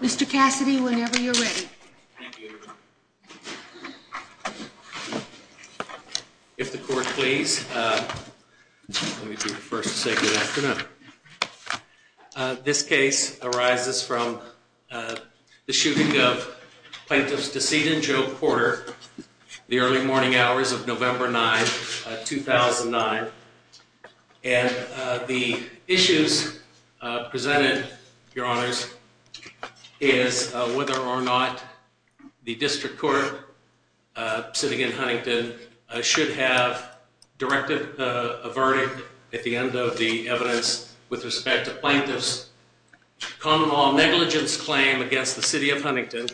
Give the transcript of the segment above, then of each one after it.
Mr. Cassidy, whenever you're ready. Thank you. If the court please, let me be the first to say good afternoon. This case arises from the shooting of plaintiff's decedent, Joe Porter, the early morning hours of November 9, 2009. And the issues presented, your honors, is whether or not the district court sitting in Huntington should have directed a verdict at the end of the evidence with respect to plaintiff's common law negligence claim against the city of Huntington.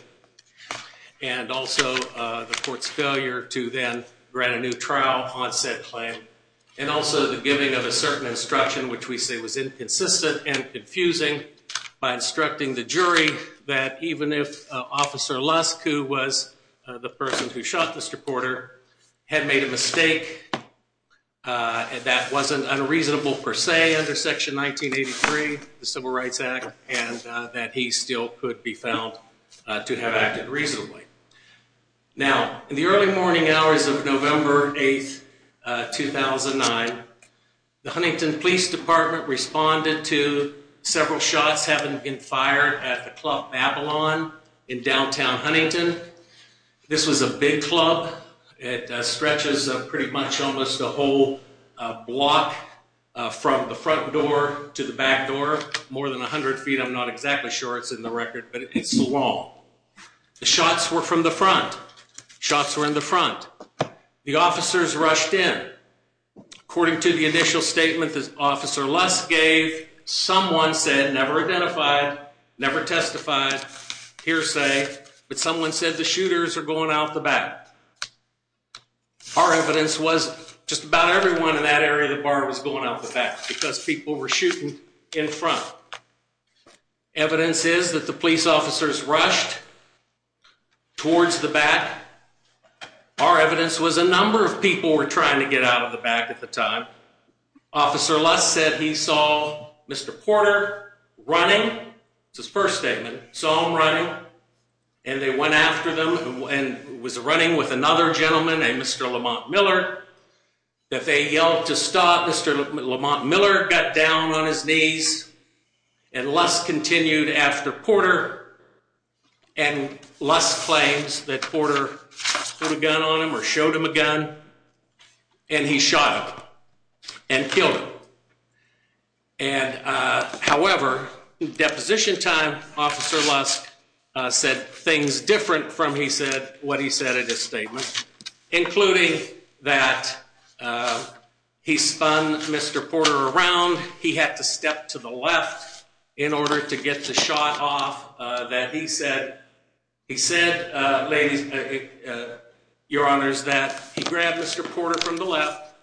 And also the court's failure to then grant a new trial on said claim. And also the giving of a certain instruction, which we say was inconsistent and confusing by instructing the jury that even if Officer Lusk, who was the person who shot Mr. Porter, had made a mistake, that wasn't unreasonable per se under Section 1983, the Civil Rights Act, and that he still could be found to have acted reasonably. Now, in the early morning hours of November 8, 2009, the Huntington Police Department responded to several shots having been fired at the Club Babylon in downtown Huntington. This was a big club. It stretches pretty much almost a whole block from the front door to the back door, more than 100 feet. I'm not exactly sure it's in the record, but it's long. The shots were from the front. Shots were in the front. The officers rushed in. According to the initial statement that Officer Lusk gave, someone said, never identified, never testified, hearsay, but someone said the shooters are going out the back. Our evidence was just about everyone in that area of the bar was going out the back because people were shooting in front. Evidence is that the police officers rushed towards the back. Our evidence was a number of people were trying to get out of the back at the time. Officer Lusk said he saw Mr. Porter running. It's his first statement. Saw him running, and they went after them, and was running with another gentleman, a Mr. Lamont Miller, that they yelled to stop. Mr. Lamont Miller got down on his knees, and Lusk continued after Porter. Lusk claims that Porter put a gun on him or showed him a gun, and he shot him and killed him. However, deposition time, Officer Lusk said things different from what he said in his statement, including that he spun Mr. Porter around. He had to step to the left in order to get the shot off that he said. He said, ladies, your honors, that he grabbed Mr. Porter from the left.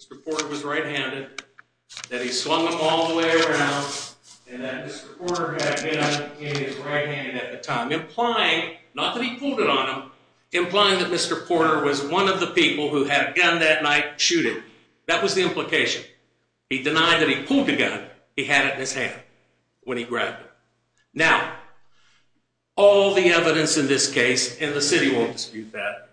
Mr. Porter was right-handed, that he slung him all the way around, and that Mr. Porter had him in his right hand at the time, implying, not that he pulled it on him, implying that Mr. Porter was one of the people who had a gun that night shooting. That was the implication. He denied that he pulled the gun. He had it in his hand when he grabbed it. Now, all the evidence in this case, and the city won't dispute that,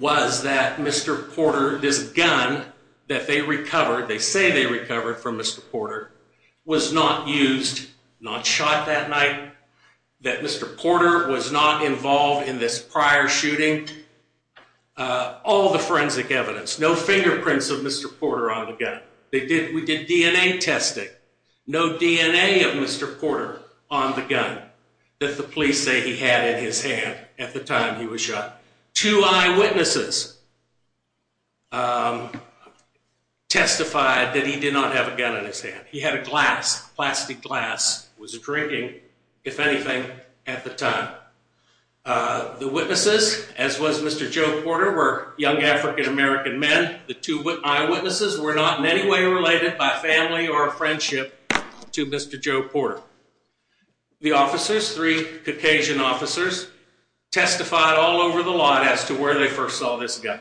was that Mr. Porter, this gun that they recovered, they say they recovered from Mr. Porter, was not used, not shot that night, that Mr. Porter was not involved in this prior shooting. All the forensic evidence, no fingerprints of Mr. Porter on the gun. We did DNA testing. No DNA of Mr. Porter on the gun that the police say he had in his hand at the time he was shot. Two eyewitnesses testified that he did not have a gun in his hand. He had a glass, plastic glass. He was drinking, if anything, at the time. The witnesses, as was Mr. Joe Porter, were young African-American men. The two eyewitnesses were not in any way related by family or friendship to Mr. Joe Porter. The officers, three Caucasian officers, testified all over the lot as to where they first saw this gun.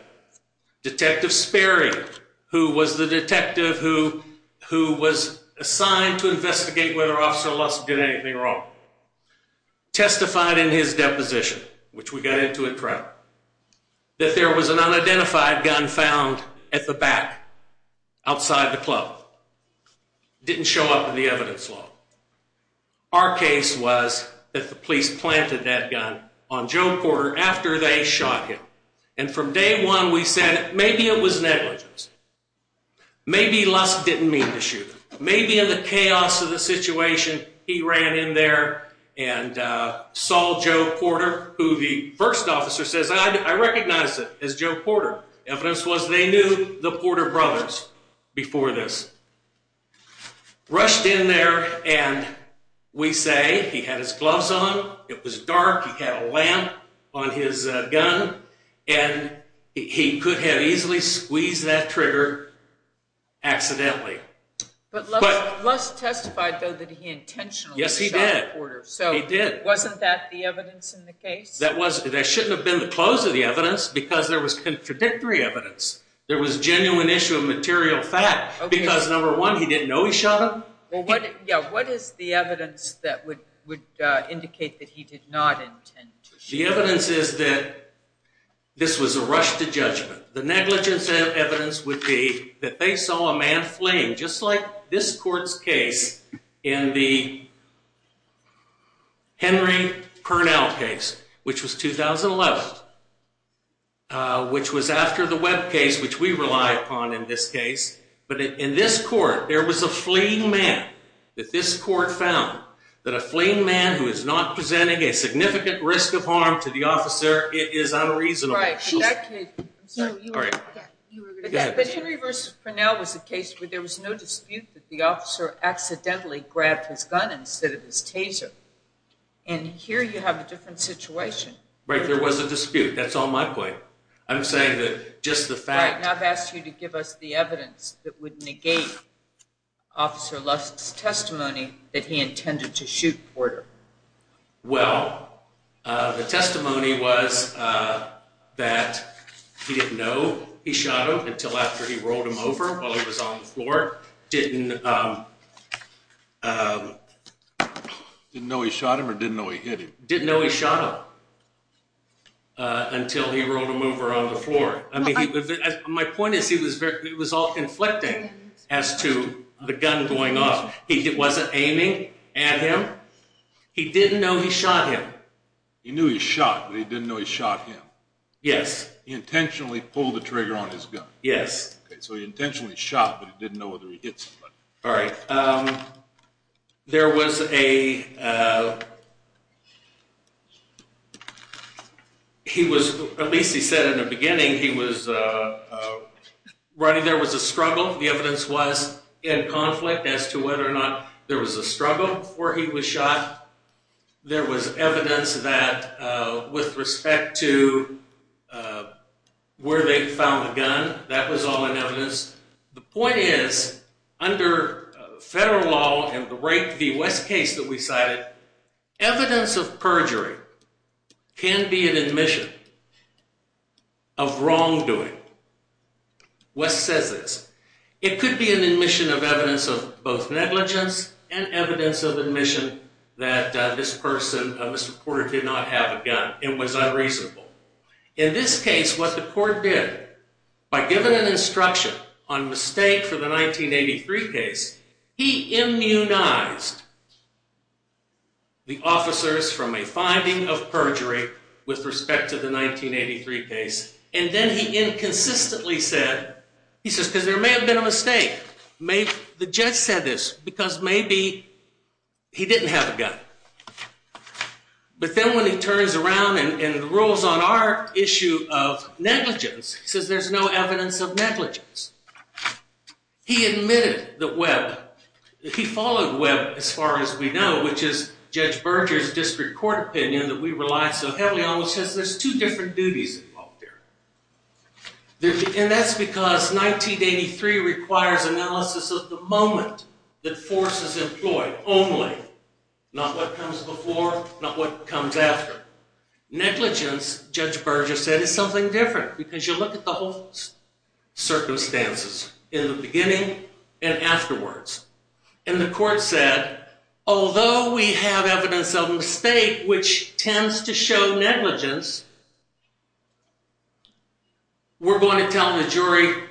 Detective Sperry, who was the detective who was assigned to investigate whether Officer Lusk did anything wrong, testified in his deposition, which we got into at trial, that there was an unidentified gun found at the back, outside the club. It didn't show up in the evidence log. Our case was that the police planted that gun on Joe Porter after they shot him. And from day one, we said maybe it was negligence. Maybe Lusk didn't mean to shoot him. Maybe in the chaos of the situation, he ran in there and saw Joe Porter, who the first officer says, I recognize him as Joe Porter. Evidence was they knew the Porter brothers before this. Rushed in there, and we say he had his gloves on, it was dark, he had a lamp on his gun, and he could have easily squeezed that trigger accidentally. But Lusk testified, though, that he intentionally shot Porter. Yes, he did. He did. So wasn't that the evidence in the case? That shouldn't have been the close of the evidence because there was contradictory evidence. There was genuine issue of material fact because, number one, he didn't know he shot him. What is the evidence that would indicate that he did not intend to shoot him? The evidence is that this was a rush to judgment. The negligence evidence would be that they saw a man fleeing, just like this court's case in the Henry Purnell case, which was 2011, which was after the Webb case, which we rely upon in this case. But in this court, there was a fleeing man that this court found, that a fleeing man who is not presenting a significant risk of harm to the officer is unreasonable. But Henry v. Purnell was a case where there was no dispute that the officer accidentally grabbed his gun instead of his taser. And here you have a different situation. Right, there was a dispute. That's all my point. I'm saying that just the fact... Right, and I've asked you to give us the evidence that would negate Officer Lusk's testimony that he intended to shoot Porter. Well, the testimony was that he didn't know he shot him until after he rolled him over while he was on the floor. Didn't know he shot him or didn't know he hit him? Didn't know he shot him until he rolled him over on the floor. My point is, it was all conflicting as to the gun going off. He wasn't aiming at him. He didn't know he shot him. He knew he shot, but he didn't know he shot him. Yes. He intentionally pulled the trigger on his gun. Yes. So he intentionally shot, but he didn't know whether he hit somebody. All right. At least he said in the beginning, there was a struggle. The evidence was in conflict as to whether or not there was a struggle before he was shot. There was evidence that with respect to where they found the gun, that was all in evidence. The point is, under federal law and the Wess case that we cited, evidence of perjury can be an admission of wrongdoing. Wess says this, it could be an admission of evidence of both negligence and evidence of admission that this person, Mr. Porter, did not have a gun and was unreasonable. In this case, what the court did, by giving an instruction on mistake for the 1983 case, he immunized the officers from a finding of perjury with respect to the 1983 case, and then he inconsistently said, he says because there may have been a mistake, the judge said this because maybe he didn't have a gun. But then when he turns around and rules on our issue of negligence, he says there's no evidence of negligence. He admitted that Webb, he followed Webb as far as we know, which is Judge Berger's district court opinion that we rely so heavily on, which says there's two different duties involved here. And that's because 1983 requires analysis of the moment that force is employed, only, not what comes before, not what comes after. Negligence, Judge Berger said, is something different because you look at the whole circumstances in the beginning and afterwards. And the court said, although we have evidence of mistake, which tends to show negligence, we're going to tell the jury,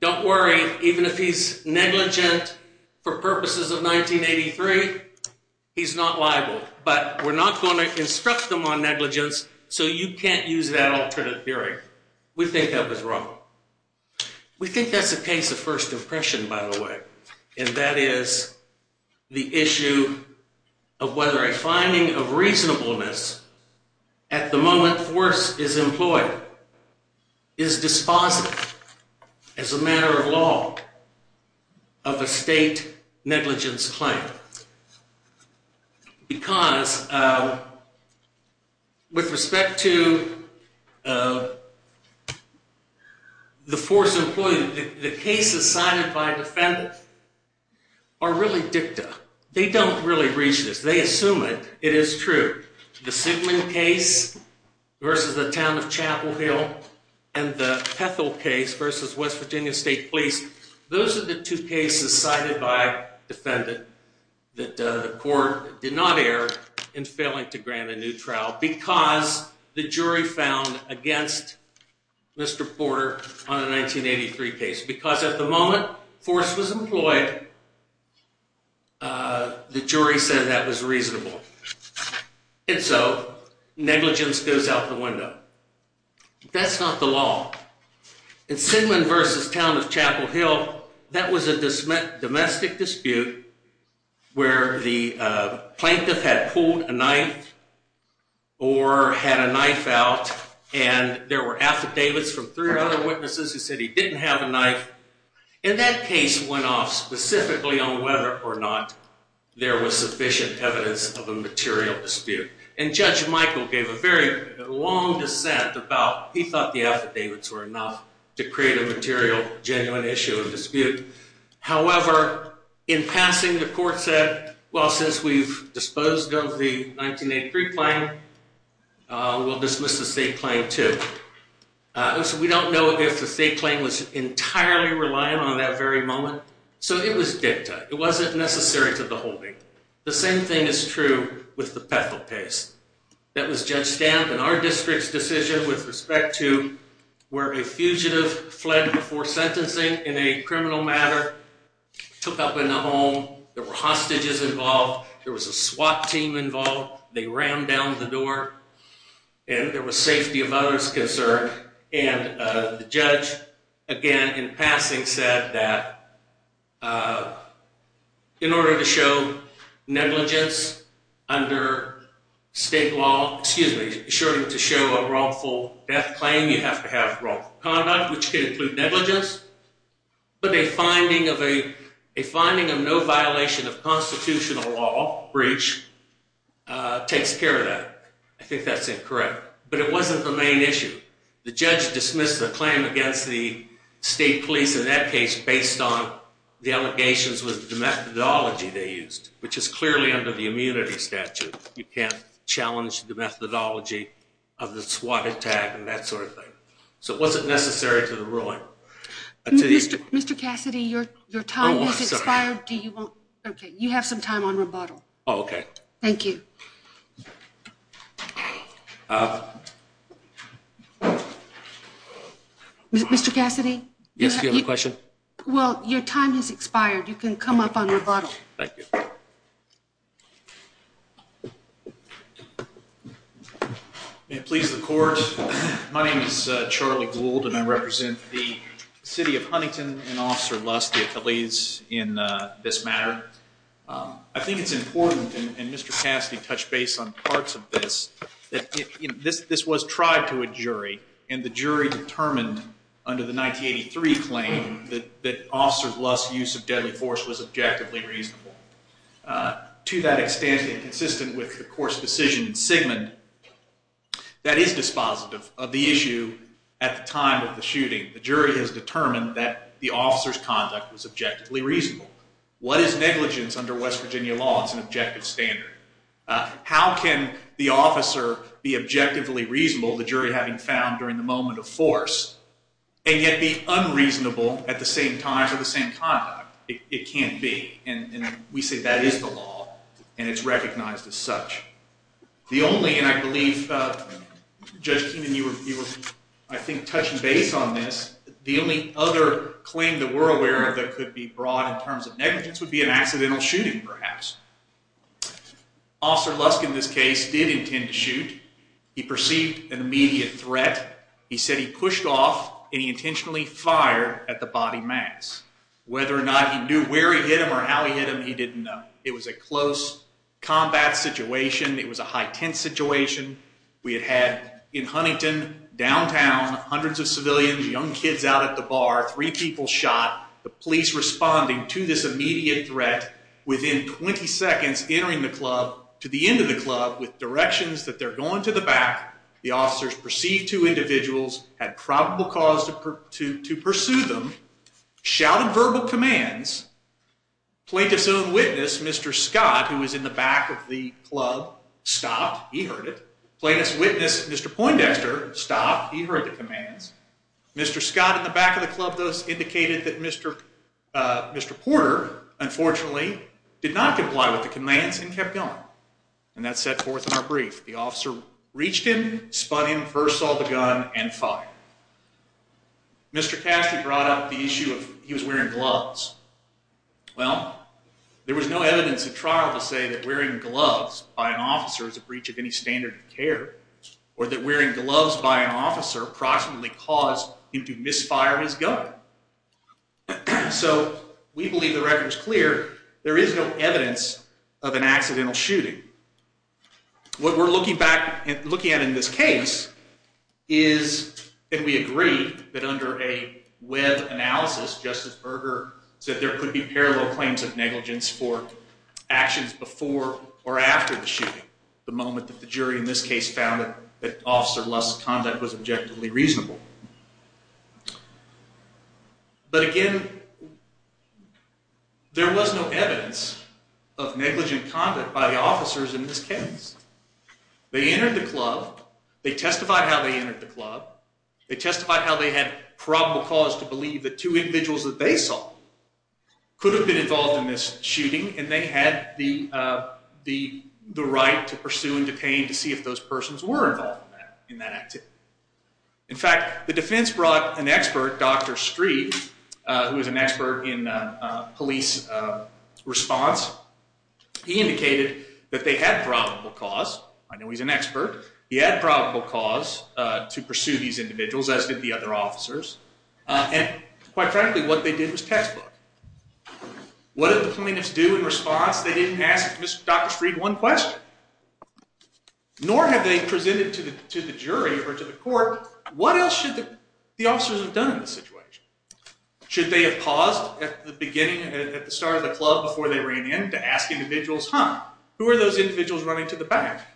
don't worry, even if he's negligent for purposes of 1983, he's not liable. But we're not going to instruct them on negligence, so you can't use that alternate theory. We think that was wrong. We think that's a case of first impression, by the way, and that is the issue of whether a finding of reasonableness at the moment force is employed is dispositive as a matter of law of a state negligence claim. Because with respect to the force employed, the cases cited by defendant are really dicta. They don't really reach this. They assume it. It is true. The Sigman case versus the town of Chapel Hill and the Pethel case versus West Virginia State Police, those are the two cases cited by defendant that the court did not err in failing to grant a new trial because the jury found against Mr. Porter on a 1983 case. Because at the moment force was employed, the jury said that was reasonable. And so negligence goes out the window. That's not the law. And Sigman versus town of Chapel Hill, that was a domestic dispute where the plaintiff had pulled a knife or had a knife out and there were affidavits from three other witnesses who said he didn't have a knife. And that case went off specifically on whether or not there was sufficient evidence of a material dispute. And Judge Michael gave a very long dissent about he thought the affidavits were enough to create a material genuine issue of dispute. However, in passing the court said, well, since we've disposed of the 1983 claim, we'll dismiss the state claim too. And so we don't know if the state claim was entirely reliant on that very moment. So it was dicta. It wasn't necessary to the holding. The same thing is true with the Pethel case. That was Judge Stamp and our district's decision with respect to where a fugitive fled before sentencing in a criminal matter, took up in the home. There were hostages involved. There was a SWAT team involved. They rammed down the door. And there was safety of others concerned. And the judge, again, in passing said that in order to show negligence under state law, excuse me, in order to show a wrongful death claim, you have to have wrongful conduct, which could include negligence. But a finding of no violation of constitutional law, breach, takes care of that. I think that's incorrect. But it wasn't the main issue. The judge dismissed the claim against the state police in that case based on the allegations with the methodology they used, which is clearly under the immunity statute. You can't challenge the methodology of the SWAT attack and that sort of thing. So it wasn't necessary to the ruling. Mr. Cassidy, your time has expired. Do you want? Okay, you have some time on rebuttal. Oh, okay. Thank you. Mr. Cassidy? Well, your time has expired. You can come up on rebuttal. Thank you. May it please the Court. My name is Charlie Gould, and I represent the city of Huntington and Officer Luss, the Attalees, in this matter. I think it's important, and Mr. Cassidy touched base on parts of this, that this was tried to a jury, and the jury determined under the 1983 claim that Officer Luss' use of deadly force was objectively reasonable. To that extent, and consistent with the court's decision in Sigmund, that is dispositive of the issue at the time of the shooting. The jury has determined that the officer's conduct was objectively reasonable. What is negligence under West Virginia law? It's an objective standard. How can the officer be objectively reasonable, the jury having found during the moment of force, and yet be unreasonable at the same time for the same conduct? It can't be. And we say that is the law, and it's recognized as such. The only, and I believe, Judge Keenan, you were, I think, touching base on this, the only other claim that we're aware of that could be brought in terms of negligence would be an accidental shooting, perhaps. Officer Luss, in this case, did intend to shoot. He perceived an immediate threat. He said he pushed off, and he intentionally fired at the body mass. Whether or not he knew where he hit him or how he hit him, he didn't know. It was a close combat situation. It was a high-tense situation. We had had, in Huntington, downtown, hundreds of civilians, young kids out at the bar, three people shot, the police responding to this immediate threat. Within 20 seconds, entering the club, to the end of the club, with directions that they're going to the back, the officers perceived two individuals, had probable cause to pursue them, shouted verbal commands, plaintiff's own witness, Mr. Scott, who was in the back of the club, stopped. He heard it. Plaintiff's witness, Mr. Poindexter, stopped. He heard the commands. Mr. Scott in the back of the club thus indicated that Mr. Porter, unfortunately, did not comply with the commands and kept going. And that's set forth in our brief. The officer reached him, spun him, first saw the gun, and fired. Mr. Cassidy brought up the issue of he was wearing gloves. Well, there was no evidence at trial to say that wearing gloves by an officer is a breach of any standard of care or that wearing gloves by an officer approximately caused him to misfire his gun. So we believe the record is clear. There is no evidence of an accidental shooting. What we're looking at in this case is that we agree that under a web analysis, Justice Berger said there could be parallel claims of negligence for actions before or after the shooting, the moment that the jury in this case found that Officer Lust's conduct was objectively reasonable. But, again, there was no evidence of negligent conduct by the officers in this case. They entered the club. They testified how they entered the club. They testified how they had probable cause to believe the two individuals that they saw could have been involved in this shooting, and they had the right to pursue and detain to see if those persons were involved in that activity. In fact, the defense brought an expert, Dr. Streed, who was an expert in police response. He indicated that they had probable cause. I know he's an expert. He had probable cause to pursue these individuals, as did the other officers. And, quite frankly, what they did was textbook. What did the plaintiffs do in response? They didn't ask Dr. Streed one question, nor have they presented to the jury or to the court, what else should the officers have done in this situation? Should they have paused at the beginning, at the start of the club, before they ran in to ask individuals, huh, who are those individuals running to the back?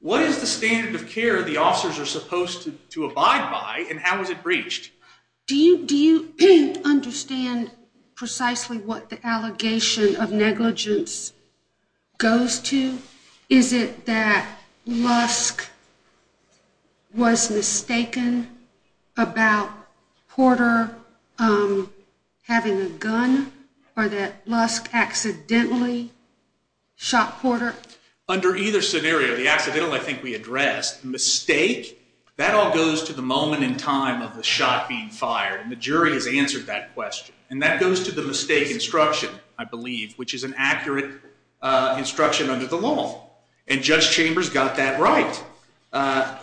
What is the standard of care the officers are supposed to abide by, and how is it breached? Do you understand precisely what the allegation of negligence goes to? Is it that Lusk was mistaken about Porter having a gun, or that Lusk accidentally shot Porter? Under either scenario, the accidental I think we addressed, mistake, that all goes to the moment in time of the shot being fired, and the jury has answered that question. And that goes to the mistake instruction, I believe, which is an accurate instruction under the law. And Judge Chambers got that right.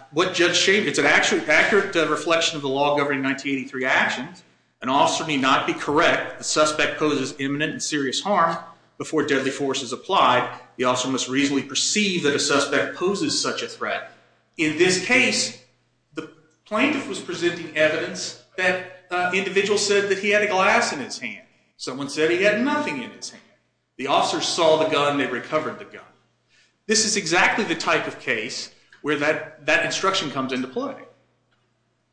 It's an accurate reflection of the law governing 1983 actions. An officer may not be correct. The suspect poses imminent and serious harm. Before deadly force is applied, the officer must reasonably perceive that a suspect poses such a threat. In this case, the plaintiff was presenting evidence that the individual said that he had a glass in his hand. Someone said he had nothing in his hand. The officer saw the gun and they recovered the gun. This is exactly the type of case where that instruction comes into play.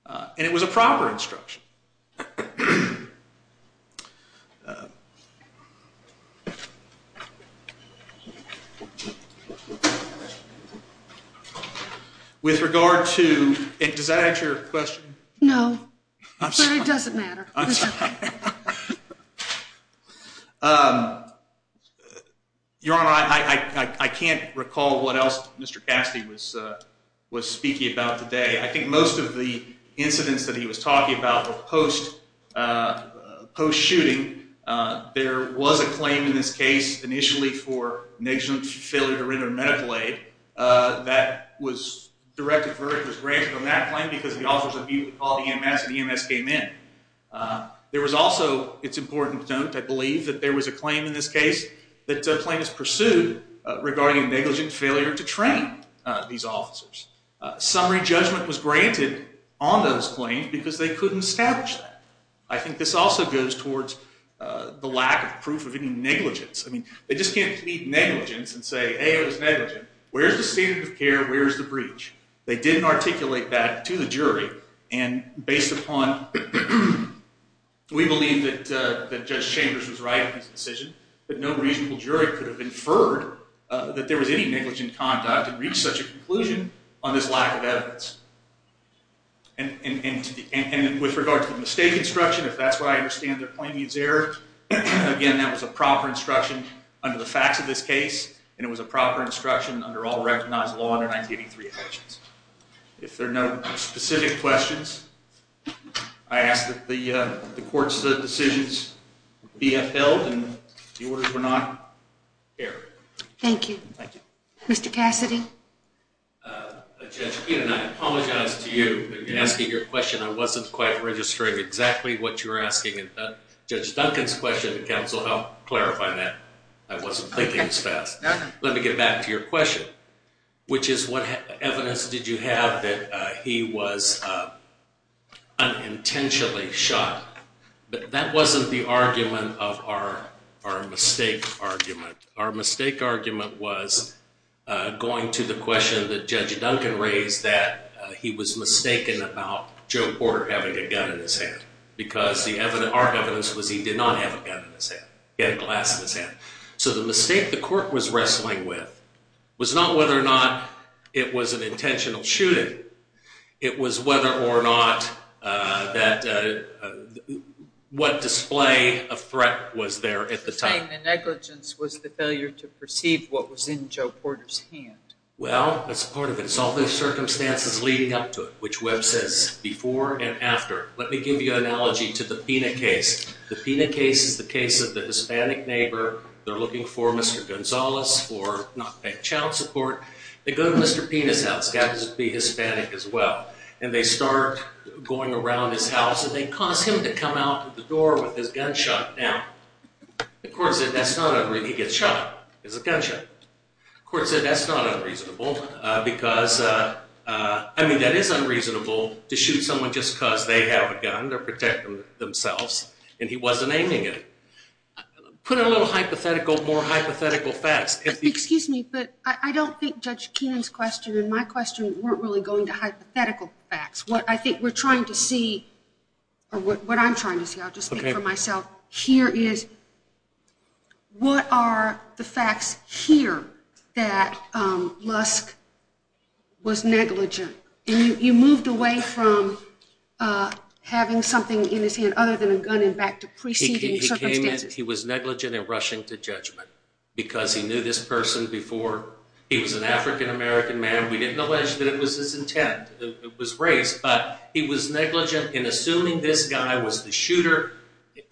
And it was a proper instruction. With regard to – does that answer your question? No, but it doesn't matter. Your Honor, I can't recall what else Mr. Cassidy was speaking about today. I think most of the incidents that he was talking about were post-shooting. There was a claim in this case initially for negligent failure to render medical aid. That was directed versus granted on that claim because the officer called EMS and EMS came in. There was also – it's important to note, I believe, that there was a claim in this case that the plaintiff pursued regarding negligent failure to train these officers. Summary judgment was granted on those claims because they couldn't establish that. I think this also goes towards the lack of proof of any negligence. I mean, they just can't plead negligence and say, hey, it was negligent. Where's the standard of care? Where's the breach? They didn't articulate that to the jury. And based upon – we believe that Judge Chambers was right in his decision, but no reasonable jury could have inferred that there was any negligent conduct and reach such a conclusion on this lack of evidence. And with regard to the mistake instruction, if that's where I understand the claimant's error, again, that was a proper instruction under the facts of this case, and it was a proper instruction under all recognized law under 1983 elections. If there are no specific questions, I ask that the court's decisions be upheld and the orders were not erred. Thank you. Thank you. Mr. Cassidy. Judge Keenan, I apologize to you for asking your question. I wasn't quite registering exactly what you were asking in Judge Duncan's question. Counsel, help clarify that. I wasn't thinking as fast. Let me get back to your question, which is what evidence did you have that he was unintentionally shot? That wasn't the argument of our mistake argument. Our mistake argument was going to the question that Judge Duncan raised, that he was mistaken about Joe Porter having a gun in his hand because our evidence was he did not have a gun in his hand. He had a glass in his hand. So the mistake the court was wrestling with was not whether or not it was an intentional shooting. It was whether or not that what display of threat was there at the time. You're saying the negligence was the failure to perceive what was in Joe Porter's hand. Well, that's part of it. It's all the circumstances leading up to it, which Webb says before and after. Let me give you an analogy to the PINA case. The PINA case is the case of the Hispanic neighbor. They're looking for Mr. Gonzalez for not paying child support. They go to Mr. PINA's house. He happens to be Hispanic as well. And they start going around his house, and they cause him to come out the door with his gunshot down. The court said that's not unreasonable. He gets shot. It's a gunshot. The court said that's not unreasonable because, I mean, that is unreasonable to shoot someone just because they have a gun to protect themselves, and he wasn't aiming it. Put a little hypothetical, more hypothetical facts. Excuse me, but I don't think Judge Keenan's question and my question weren't really going to hypothetical facts. What I think we're trying to see, or what I'm trying to see, I'll just speak for myself, here is what are the facts here that Lusk was negligent? And you moved away from having something in his hand other than a gun and back to preceding circumstances. He was negligent in rushing to judgment because he knew this person before. He was an African-American man. We didn't allege that it was his intent. It was race, but he was negligent in assuming this guy was the shooter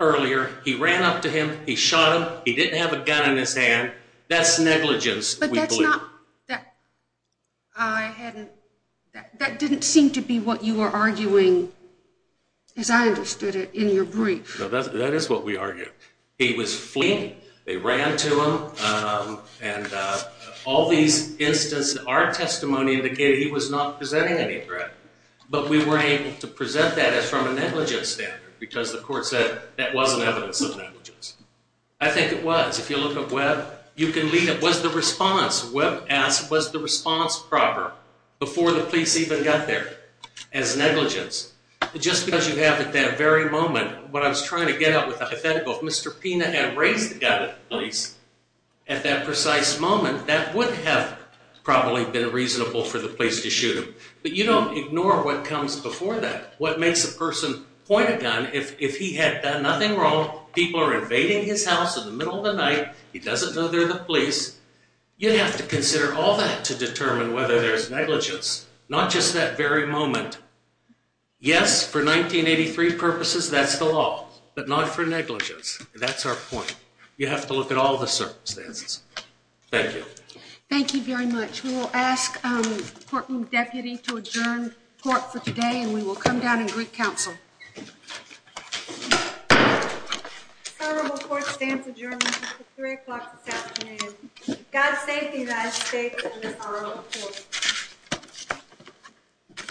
earlier. He ran up to him. He shot him. He didn't have a gun in his hand. That's negligence, we believe. But that's not – that didn't seem to be what you were arguing, as I understood it, in your brief. No, that is what we argued. He was fleeing. They ran to him. And all these instances in our testimony indicated he was not presenting any threat. But we weren't able to present that as from a negligence standard because the court said that wasn't evidence of negligence. I think it was. If you look at Webb, you can leave it was the response. Webb asked was the response proper before the police even got there as negligence. Just because you have at that very moment what I was trying to get at with the hypothetical, if Mr. Pena had raised the gun at the police at that precise moment, that would have probably been reasonable for the police to shoot him. But you don't ignore what comes before that, what makes a person point a gun if he had done nothing wrong. People are invading his house in the middle of the night. He doesn't know they're the police. You have to consider all that to determine whether there's negligence, not just that very moment. Yes, for 1983 purposes, that's the law, but not for negligence. That's our point. You have to look at all the circumstances. Thank you. Thank you very much. We will ask the courtroom deputy to adjourn court for today, and we will come down and greet counsel. Honorable court stands adjourned until 3 o'clock this afternoon. God save the United States and this honorable court.